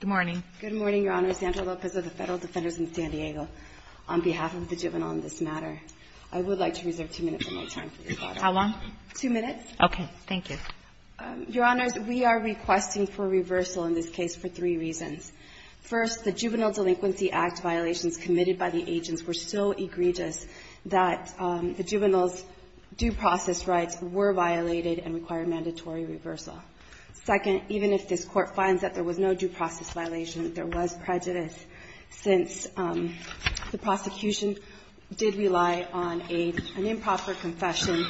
Good morning. Good morning, Your Honor. I'm Lizandra Lopez of the Federal Defenders in San Diego. On behalf of the juvenile on this matter, I would like to reserve two minutes of my time for your thought. Sotomayor How long? Lizandra Lopez Two minutes. Sotomayor Okay. Thank you. Lizandra Lopez Your Honors, we are requesting for reversal in this case for three reasons. First, the Juvenile Delinquency Act violations committed by the agents were so egregious that the juveniles' due process rights were violated and required mandatory reversal. Second, even if this Court finds that there was no due process violation, that there was prejudice, since the prosecution did rely on an improper confession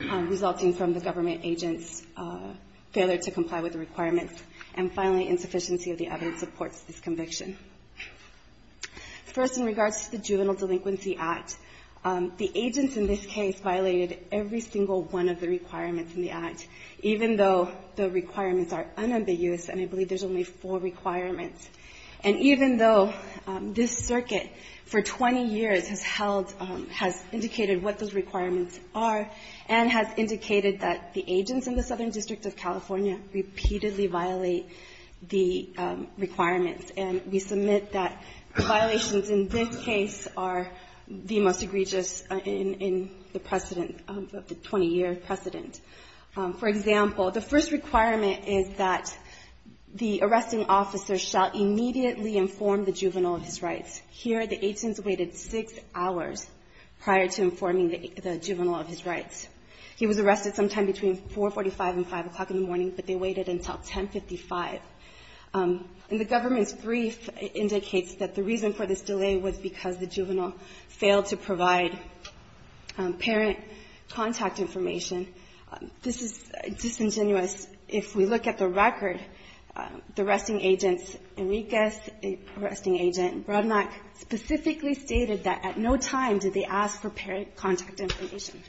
resulting from the government agent's failure to comply with the requirements. And finally, insufficiency of the evidence supports this conviction. First, in regards to the Juvenile Delinquency Act, the agents in this case violated every single one of the requirements in the Act, even though the requirements are unambiguous, and I believe there's only four requirements. And even though this circuit for 20 years has held, has indicated what those requirements are, and has indicated that the agents in the Southern District of California repeatedly violate the requirements, and we submit that violations in this case are the most egregious in the precedent of the 20-year precedent. For example, the first requirement is that the arresting officer shall immediately inform the juvenile of his rights. Here, the agents waited six hours prior to informing the juvenile of his rights. He was arrested sometime between 4.45 and 5 o'clock in the morning, but they waited until 10.55. And the government's brief indicates that the reason for this delay was because the juvenile failed to provide parent contact information. This is disingenuous. If we look at the record, the arresting agents, Enriquez, an arresting agent, and Bronack, specifically stated that at no time did they ask for parent contact information.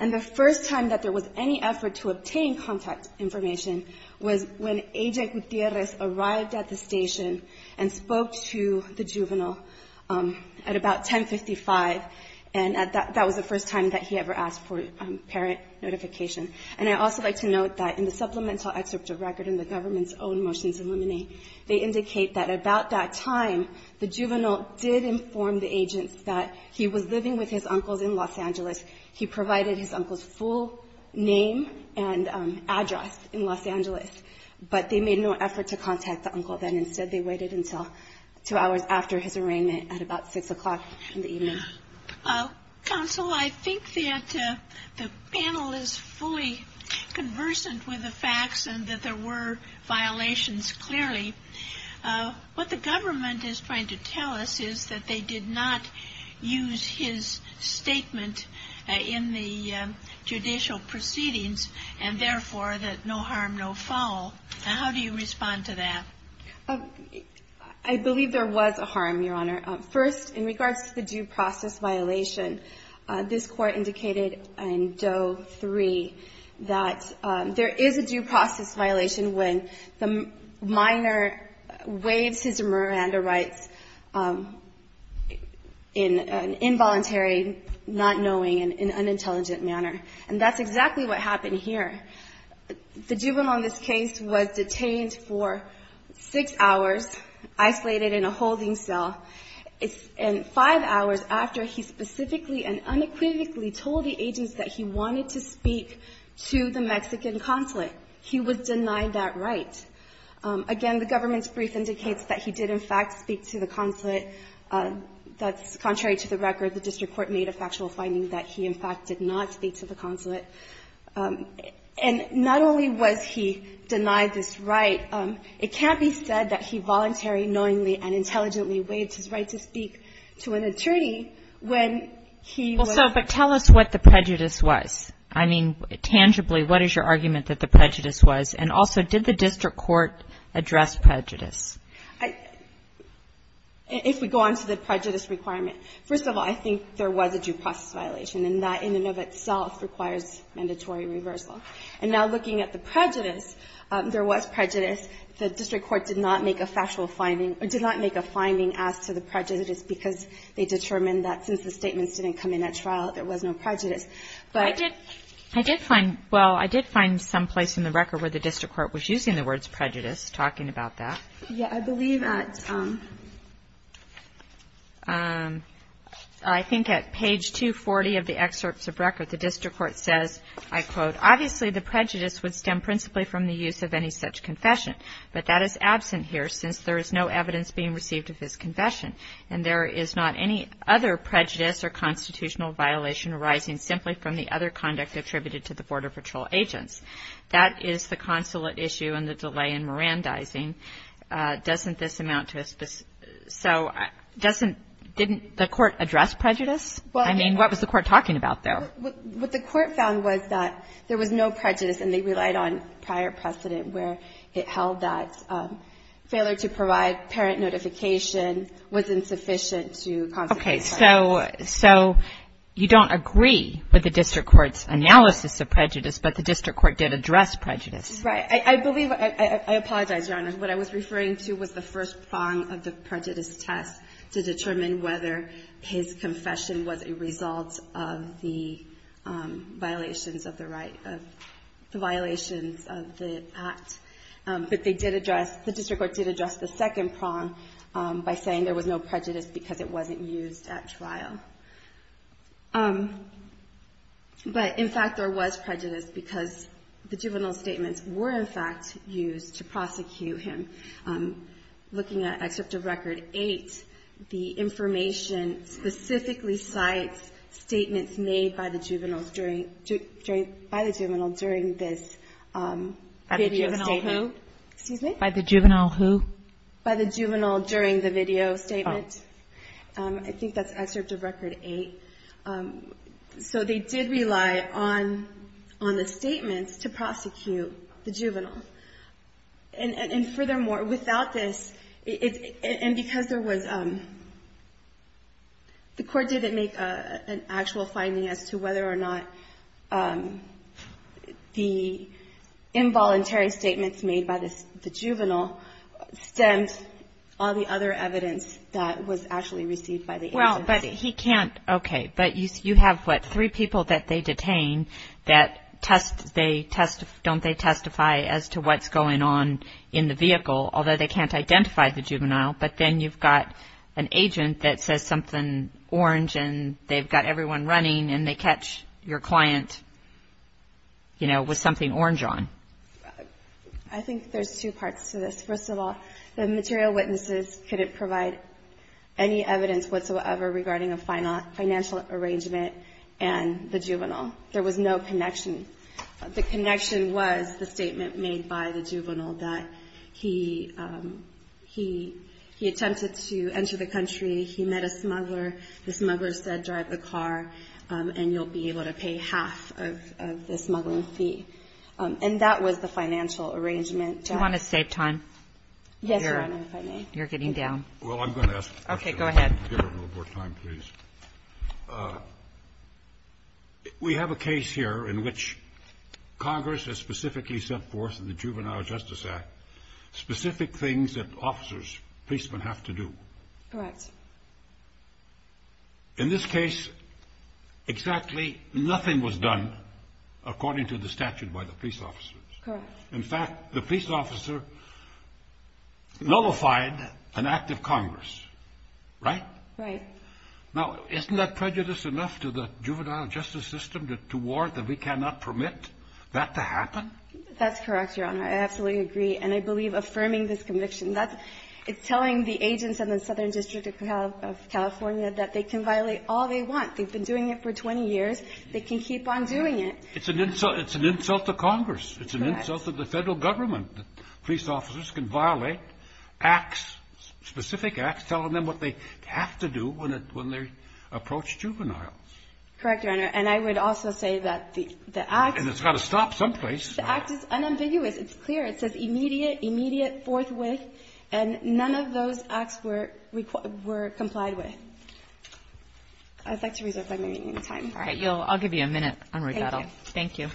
And the first time that there was any effort to obtain contact information was when Agent Gutierrez arrived at the station and spoke to the juvenile at about 10.55, and that was the first time that he ever asked for parent notification. And I'd also like to note that in the supplemental excerpt of record in the government's own motions illuminate, they indicate that at about that time, the juvenile did inform the agents that he was living with his uncles in Los Angeles. He provided his uncle's full name and address in Los Angeles, but they made no effort to contact the uncle then. Instead, they waited until two hours after his arraignment at about 6 o'clock in the evening. Counsel, I think that the panel is fully conversant with the facts and that there were violations, clearly. What the government is trying to tell us is that they did not use his statement in the judicial proceedings, and therefore, that no harm, no foul. How do you respond to that? I believe there was a harm, Your Honor. First, in regards to the due process violation, this Court indicated in Doe 3 that there is a due process violation when the minor waives his Miranda rights in an involuntary, not knowing, and unintelligent manner. And that's exactly what happened here. The juvenile in this case was 6 hours isolated in a holding cell, and 5 hours after, he specifically and unequivocally told the agents that he wanted to speak to the Mexican consulate. He was denied that right. Again, the government's brief indicates that he did, in fact, speak to the consulate. That's contrary to the record. The district court made a factual finding that he, in fact, did not speak to the consulate. And not only was he denied this right, it can't be said that he voluntarily, knowingly, and intelligently waived his right to speak to an attorney when he was not. Well, so, but tell us what the prejudice was. I mean, tangibly, what is your argument that the prejudice was? And also, did the district court address prejudice? I — if we go on to the prejudice requirement, first of all, I think there was a due process violation, and that in and of itself requires mandatory reversal. And now, looking at the prejudice, there was prejudice. The district court did not make a factual finding, or did not make a finding as to the prejudice, because they determined that since the statements didn't come in at trial, there was no prejudice. But — I did — I did find — well, I did find someplace in the record where the district court was using the words prejudice, talking about that. Yeah. I believe at — I think at page 240 of the excerpts of record, the district court says, I quote, Obviously, the prejudice would stem principally from the use of any such confession, but that is absent here, since there is no evidence being received of his confession, and there is not any other prejudice or constitutional violation arising simply from the other conduct attributed to the Border Patrol agents. That is the consulate issue, and the delay in Mirandizing doesn't this amount to a — so, doesn't — didn't the court address prejudice? Well — I mean, what was the court talking about there? Well, what the court found was that there was no prejudice, and they relied on prior precedent where it held that failure to provide parent notification was insufficient to constitute prejudice. Okay. So — so you don't agree with the district court's analysis of prejudice, but the district court did address prejudice. Right. I believe — I apologize, Your Honor. What I was referring to was the first prong of the prejudice test to determine whether his confession was a result of the violations of the right — of the violations of the act. But they did address — the district court did address the second prong by saying there was no prejudice because it wasn't used at trial. But, in fact, there was prejudice because the juvenile statements were, in fact, used to prosecute him. Looking at Excerpt of Record 8, the information specifically cites statements made by the juveniles during — by the juvenile during this video statement. By the juvenile who? Excuse me? By the juvenile who? By the juvenile during the video statement. Oh. I think that's Excerpt of Record 8. So they did rely on — on the statements to prosecute the juvenile. And, furthermore, without this — and because there was — the court didn't make an actual finding as to whether or not the involuntary statements made by the juvenile stemmed all the other evidence that was actually received by the agency. Well, but he can't — okay. But you have, what, three people that they detain that test — don't they testify as to what's going on in the vehicle, although they can't identify the juvenile. But then you've got an agent that says something orange, and they've got everyone running, and they catch your client, you know, with something orange on. I think there's two parts to this. First of all, the material witnesses couldn't provide any evidence whatsoever regarding a financial arrangement and the juvenile. There was no connection. The connection was the statement made by the juvenile that he — he attempted to enter the country. He met a smuggler. The smuggler said, drive the car, and you'll be able to pay half of the smuggling fee. And that was the financial arrangement. Do you want to save time? Yes, Your Honor, if I may. You're getting down. Well, I'm going to ask a question. Okay. Go ahead. Give her a little more time, please. We have a case here in which Congress has specifically set forth in the Juvenile Justice Act specific things that officers, policemen, have to do. Correct. In this case, exactly nothing was done according to the statute by the police officers. Correct. In fact, the police officer nullified an act of Congress. Right? Right. Now, isn't that prejudice enough to the juvenile justice system to warrant that we cannot permit that to happen? That's correct, Your Honor. I absolutely agree. And I believe affirming this conviction, that's — it's telling the agents in the Southern District of California that they can violate all they want. They've been doing it for 20 years. They can keep on doing it. It's an insult — it's an insult to Congress. It's an insult to the federal government that police officers can violate acts, specific acts, telling them what they have to do when they approach juveniles. Correct, Your Honor. And I would also say that the act — And it's got to stop someplace. The act is unambiguous. It's clear. It says, immediate, immediate, forthwith. And none of those acts were complied with. I'd like to reserve my remaining time. All right. I'll give you a minute on recital. Thank you.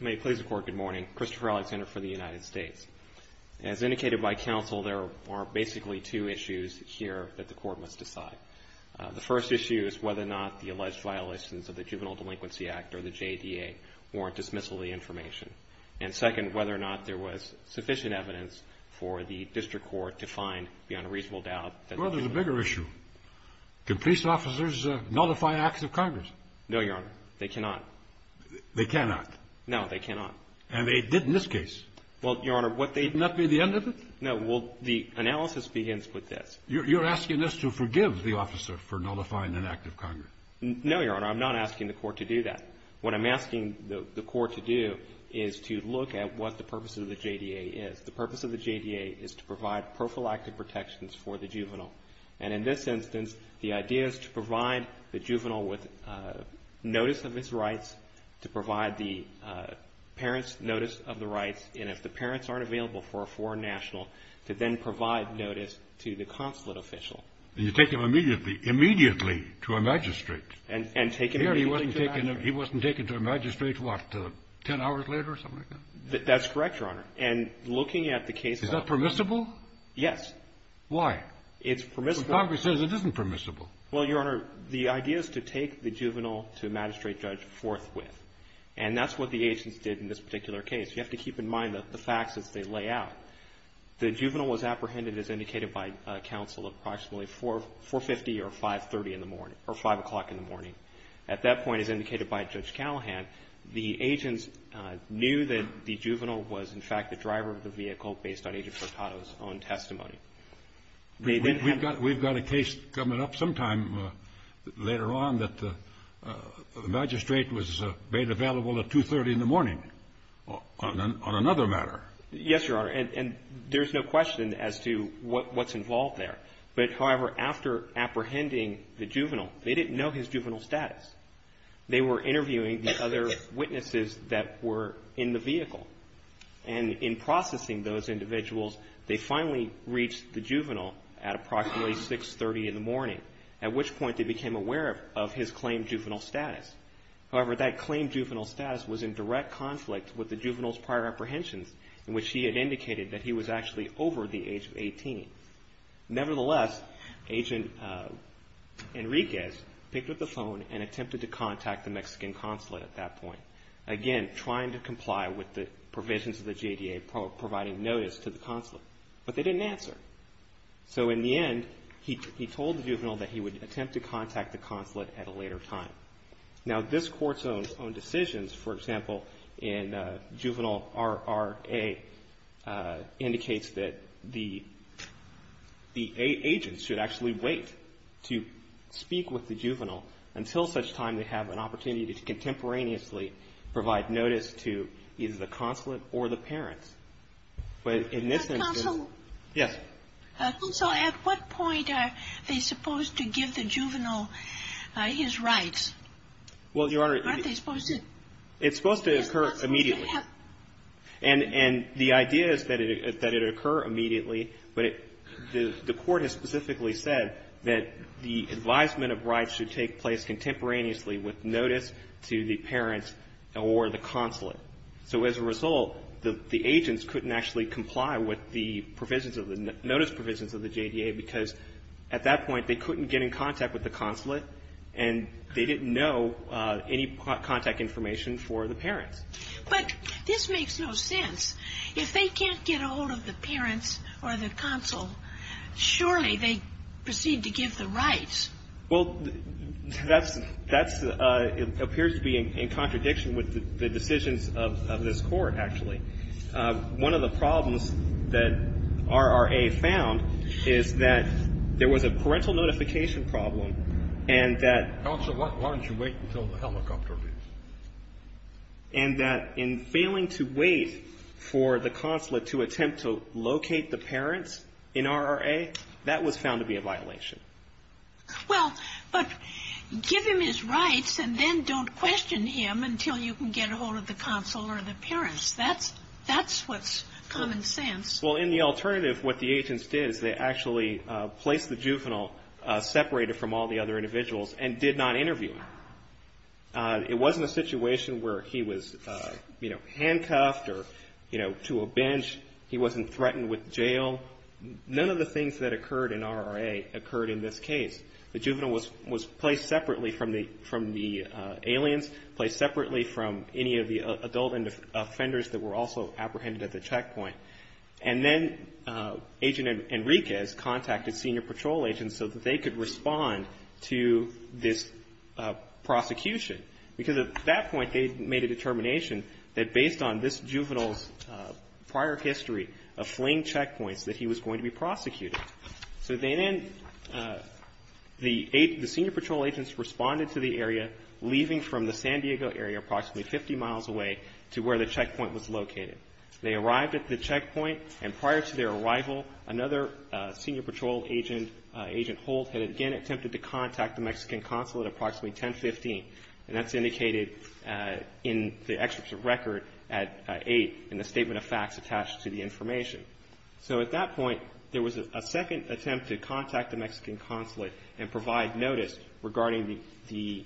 May it please the Court, good morning. Christopher Alexander for the United States. As indicated by counsel, there are basically two issues here that the Court must decide. The first issue is whether or not the alleged violations of the Juvenile Delinquency Act or the JDA warrant dismissal of the information. And second, whether or not there was sufficient evidence for the district court to find beyond a reasonable doubt that — Well, there's a bigger issue. Can police officers nullify acts of Congress? No, Your Honor. They cannot. They cannot? No, they cannot. And they did in this case. Well, Your Honor, what they — Could not be the end of it? No. Well, the analysis begins with this. You're asking us to forgive the officer for nullifying an act of Congress? No, Your Honor. I'm not asking the Court to do that. What I'm asking the Court to do is to look at what the purpose of the JDA is. The purpose of the JDA is to provide prophylactic protections for the juvenile. And in this instance, the idea is to provide the juvenile with notice of his rights, to provide the parent's notice of the rights, and if the parents aren't available for a foreign national, to then provide notice to the consulate official. And you take him immediately to a magistrate. And take him immediately to a magistrate. Here he wasn't taken to a magistrate, what, 10 hours later or something like that? That's correct, Your Honor. And looking at the case file — Is that permissible? Yes. Why? It's permissible. Congress says it isn't permissible. Well, Your Honor, the idea is to take the juvenile to a magistrate judge forthwith. And that's what the agents did in this particular case. You have to keep in mind the facts as they lay out. The juvenile was apprehended, as indicated by counsel, approximately 4.50 or 5.30 in the morning — or 5 o'clock in the morning. At that point, as indicated by Judge Callahan, the agents knew that the juvenile was, in fact, the driver of the vehicle based on Agent Sartato's own testimony. We've got a case coming up sometime later on that the magistrate was made available at 2.30 in the morning on another matter. Yes, Your Honor. And there's no question as to what's involved there. But, however, after apprehending the juvenile, they didn't know his juvenile status. They were interviewing the other witnesses that were in the vehicle. And in processing those individuals, they finally reached the juvenile at approximately 6.30 in the morning, at which point they became aware of his claimed juvenile status. However, that claimed juvenile status was in direct conflict with the juvenile's prior apprehensions, in which he had indicated that he was actually over the age of 18. Nevertheless, Agent Enriquez picked up the phone and attempted to contact the Mexican consulate at that point. Again, trying to comply with the provisions of the JDA, providing notice to the consulate, but they didn't answer. So, in the end, he told the juvenile that he would attempt to contact the consulate at a later time. Now, this Court's own decisions, for example, in Juvenile R.R.A., indicates that the agents should actually wait to speak with the juvenile until such time they have an opportunity to contemporaneously provide notice to either the consulate or the parents. But in this instance... The consulate? Yes. So, at what point are they supposed to give the juvenile his rights? Well, Your Honor... Aren't they supposed to... It's supposed to occur immediately. And the idea is that it occur immediately, but the Court has specifically said that the advisement of rights should take place contemporaneously with notice to the parents or the consulate. So, as a result, the agents couldn't actually comply with the notice provisions of the JDA because at that point they couldn't get in contact with the consulate and they didn't know any contact information for the parents. But this makes no sense. If they can't get a hold of the parents or the consul, surely they proceed to give the rights. Well, that appears to be in contradiction with the decisions of this Court, actually. One of the problems that RRA found is that there was a parental notification problem and that... Counsel, why don't you wait until the helicopter leaves? And that in failing to wait for the consulate to attempt to locate the parents in RRA, that was found to be a violation. Well, but give him his rights and then don't question him until you can get a hold of the consul or the parents. That's what's common sense. Well, in the alternative, what the agents did is they actually placed the juvenile separated from all the other individuals and did not interview him. It wasn't a situation where he was, you know, handcuffed or, you know, to a bench. He wasn't threatened with jail. None of the things that occurred in RRA occurred in this case. The juvenile was placed separately from the aliens, placed separately from any of the adult offenders that were also apprehended at the checkpoint. And then Agent Enriquez contacted senior patrol agents so that they could respond to this prosecution. Because at that point, they made a determination that based on this juvenile's prior history of fleeing checkpoints, that he was going to be prosecuted. So then the senior patrol agents responded to the area, leaving from the San Diego area, approximately 50 miles away, to where the checkpoint was located. They arrived at the checkpoint, and prior to their arrival, another senior patrol agent, Agent Holt, had again attempted to contact the Mexican consul at approximately 10.15. And that's indicated in the excerpt of record at 8 and the statement of facts attached to the information. So at that point, there was a second attempt to contact the Mexican consulate and provide notice regarding the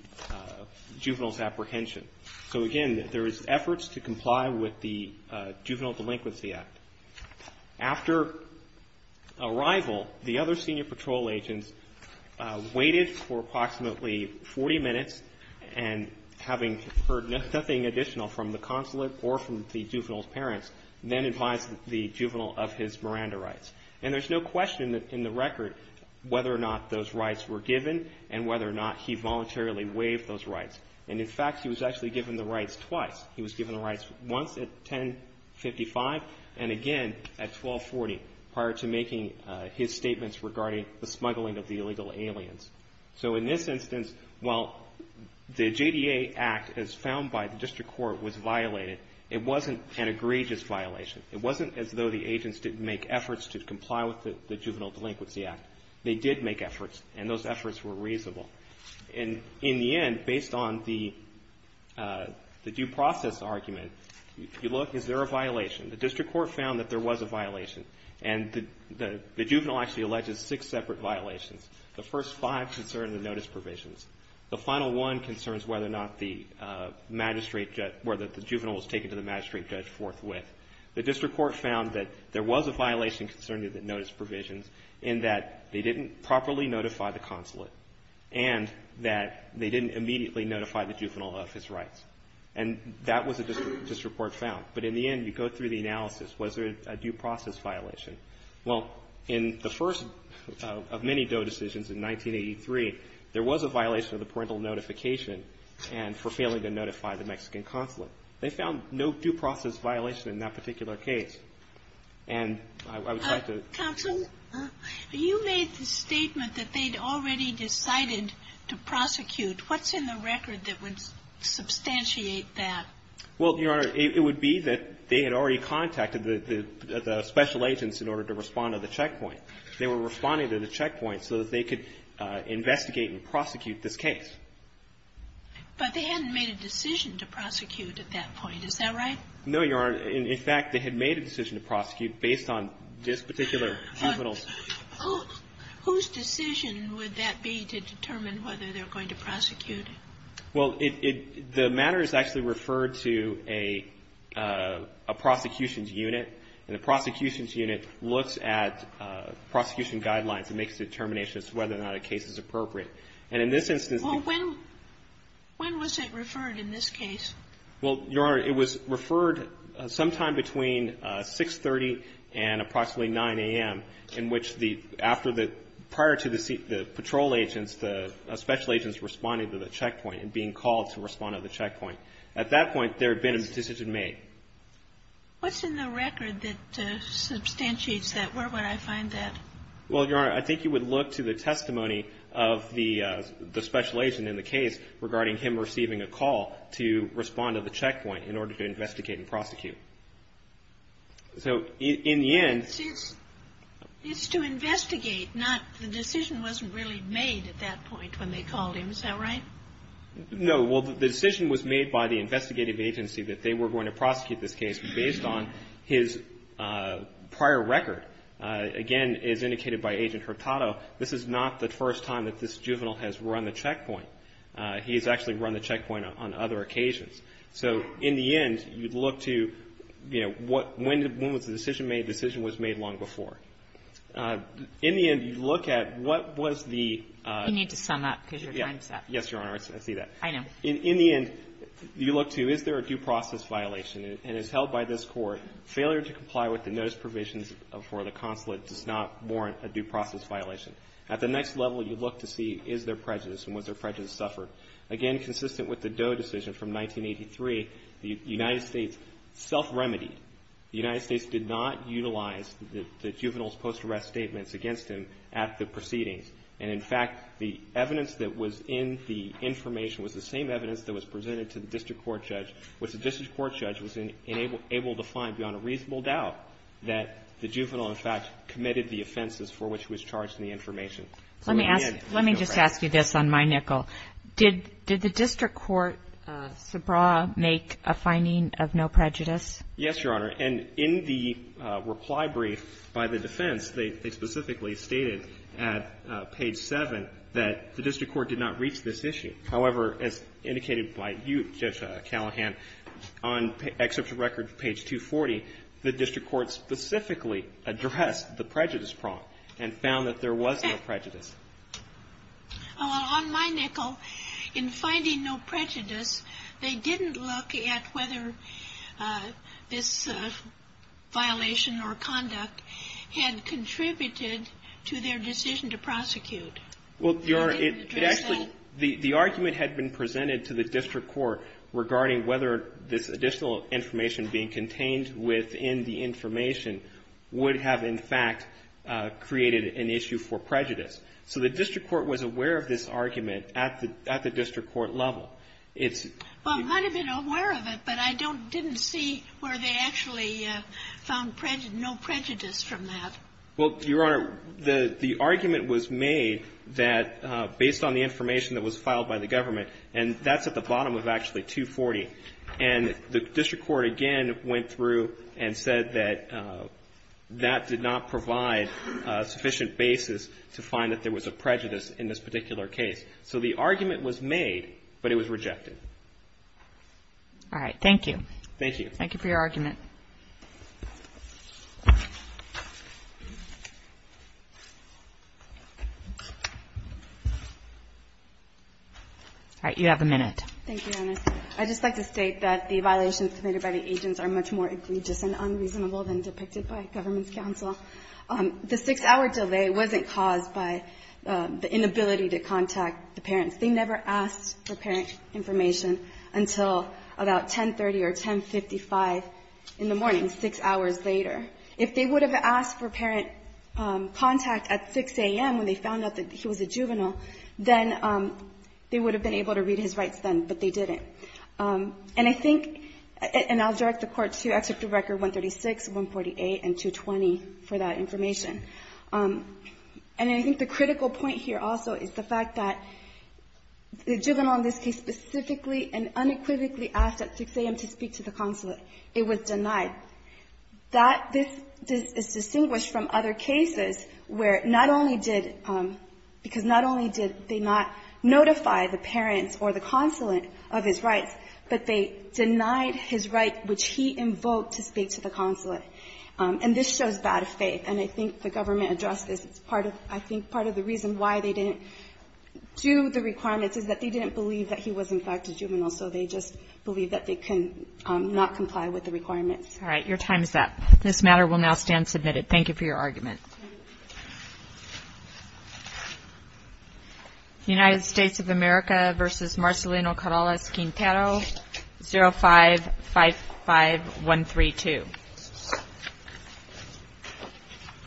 juvenile's apprehension. So again, there was efforts to comply with the Juvenile Delinquency Act. After arrival, the other senior patrol agents waited for approximately 40 minutes and having heard nothing additional from the consulate or from the juvenile's parents, then advised the juvenile of his Miranda rights. And there's no question in the record whether or not those rights were given and whether or not he voluntarily waived those rights. And in fact, he was actually given the rights twice. He was given the rights once at 10.55 and again at 12.40, prior to making his statements regarding the smuggling of the illegal aliens. So in this instance, while the JDA Act as found by the district court was violated, it wasn't an egregious violation. It wasn't as though the agents didn't make efforts to comply with the Juvenile Delinquency Act. They did make efforts, and those efforts were reasonable. And in the end, based on the due process argument, if you look, is there a violation? The district court found that there was a violation. And the juvenile actually alleges six separate violations. The first five concern the notice provisions. The final one concerns whether or not the magistrate judge, whether the juvenile was taken to the magistrate judge forthwith. The district court found that there was a violation concerning the notice provisions in that they didn't properly notify the consulate and that they didn't immediately notify the juvenile of his rights. And that was a district court found. But in the end, you go through the analysis. Was there a due process violation? Well, in the first of many Doe decisions in 1983, there was a violation of the parental notification and for failing to notify the Mexican consulate. They found no due process violation in that particular case. And I would like to... Counsel, you made the statement that they'd already decided to prosecute. What's in the record that would substantiate that? Well, Your Honor, it would be that they had already contacted the special agents in order to respond to the checkpoint. They were responding to the checkpoint so that they could investigate and prosecute this case. But they hadn't made a decision to prosecute at that point. Is that right? No, Your Honor. In fact, they had made a decision to prosecute based on this particular juvenile's... Whose decision would that be to determine whether they're going to prosecute? Well, the matter is actually referred to a prosecution's unit. And the prosecution's unit looks at prosecution guidelines and makes determinations as to whether or not a case is appropriate. And in this instance... Well, when was it referred in this case? Well, Your Honor, it was referred sometime between 6.30 and approximately 9.00 a.m., in which the... Prior to the patrol agents, the special agents responding to the checkpoint and being called to respond to the checkpoint. At that point, there had been a decision made. What's in the record that substantiates that? Well, Your Honor, I think you would look to the testimony of the special agent in the case regarding him receiving a call to respond to the checkpoint in order to investigate and prosecute. So, in the end... It's to investigate, not... The decision wasn't really made at that point when they called him. Is that right? No. Well, the decision was made by the investigative agency that they were going to prosecute this case based on his prior record. Again, as indicated by Agent Hurtado, this is not the first time that this juvenile has run the checkpoint. He's actually run the checkpoint on other occasions. So, in the end, you'd look to, you know, when was the decision made? The decision was made long before. In the end, you'd look at what was the... You need to sum up, because your time's up. Yes, Your Honor, I see that. I know. In the end, you look to, is there a due process violation? And as held by this Court, failure to comply with the notice provisions for the consulate does not warrant a due process violation. At the next level, you look to see is there prejudice, and was there prejudice suffered? Again, consistent with the Doe decision from 1983, the United States self-remedied. The United States did not utilize the juvenile's post-arrest statements against him at the proceedings. And, in fact, the evidence that was in the information was the same evidence that was presented to the district court judge, which the district court judge was able to find, beyond a reasonable doubt, that the juvenile, in fact, committed the offenses for which he was charged in the information. Let me just ask you this on my nickel. Did the district court make a finding of no prejudice? Yes, Your Honor. And in the reply brief by the defense, they specifically stated at page seven that the district court did not reach this issue. However, as indicated by you, Judge Callahan, on excerpt from record page 240, the district court specifically addressed the prejudice problem and found that there was no prejudice. On my nickel, in finding no prejudice, they didn't look at whether this violation or conduct had contributed to their decision to prosecute. Well, Your Honor, the argument had been presented to the district court regarding whether this additional information being contained within the information would have, in fact, created an issue for prejudice. So the district court was aware of this argument at the district court level. Well, I might have been aware of it, but I didn't see where they actually found no prejudice from that. Well, Your Honor, the argument was made that based on the information that was filed by the government, and that's at the bottom of actually 240, and the district court again went through and said that that did not provide a sufficient basis to find that there was a prejudice in this particular case. So the argument was made, but it was rejected. All right. Thank you. Thank you. Thank you for your argument. All right. You have a minute. Thank you, Your Honor. I'd just like to state that the violations committed by the agents are much more egregious and unreasonable than depicted by government counsel. The six-hour delay wasn't caused by the inability to contact the parents. They never asked for parent information until about 10.30 or 10.55 in the morning, six hours later. If they would have asked for parent contact information at 6 a.m. when they found out that he was a juvenile, then they would have been able to read his rights then, but they didn't. And I think, and I'll direct the Court to Executive Record 136, 148, and 220 for that information. And I think the critical point here also is the fact that the juvenile in this case specifically and unequivocally asked at 6 a.m. to speak to the consulate. It was denied. This is where not only did because not only did they not notify the parents or the consulate of his rights, but they denied his right which he invoked to speak to the consulate. And this shows bad faith, and I think the government addressed this. It's part of I think part of the reason why they didn't do the requirements is that they didn't believe that he was in fact a juvenile, so they just believe that they can not comply with the requirements. All right. Your time is up. This matter will now stand submitted. Thank you for your argument. United States of America versus Marcelino Carrales Quintero 0555132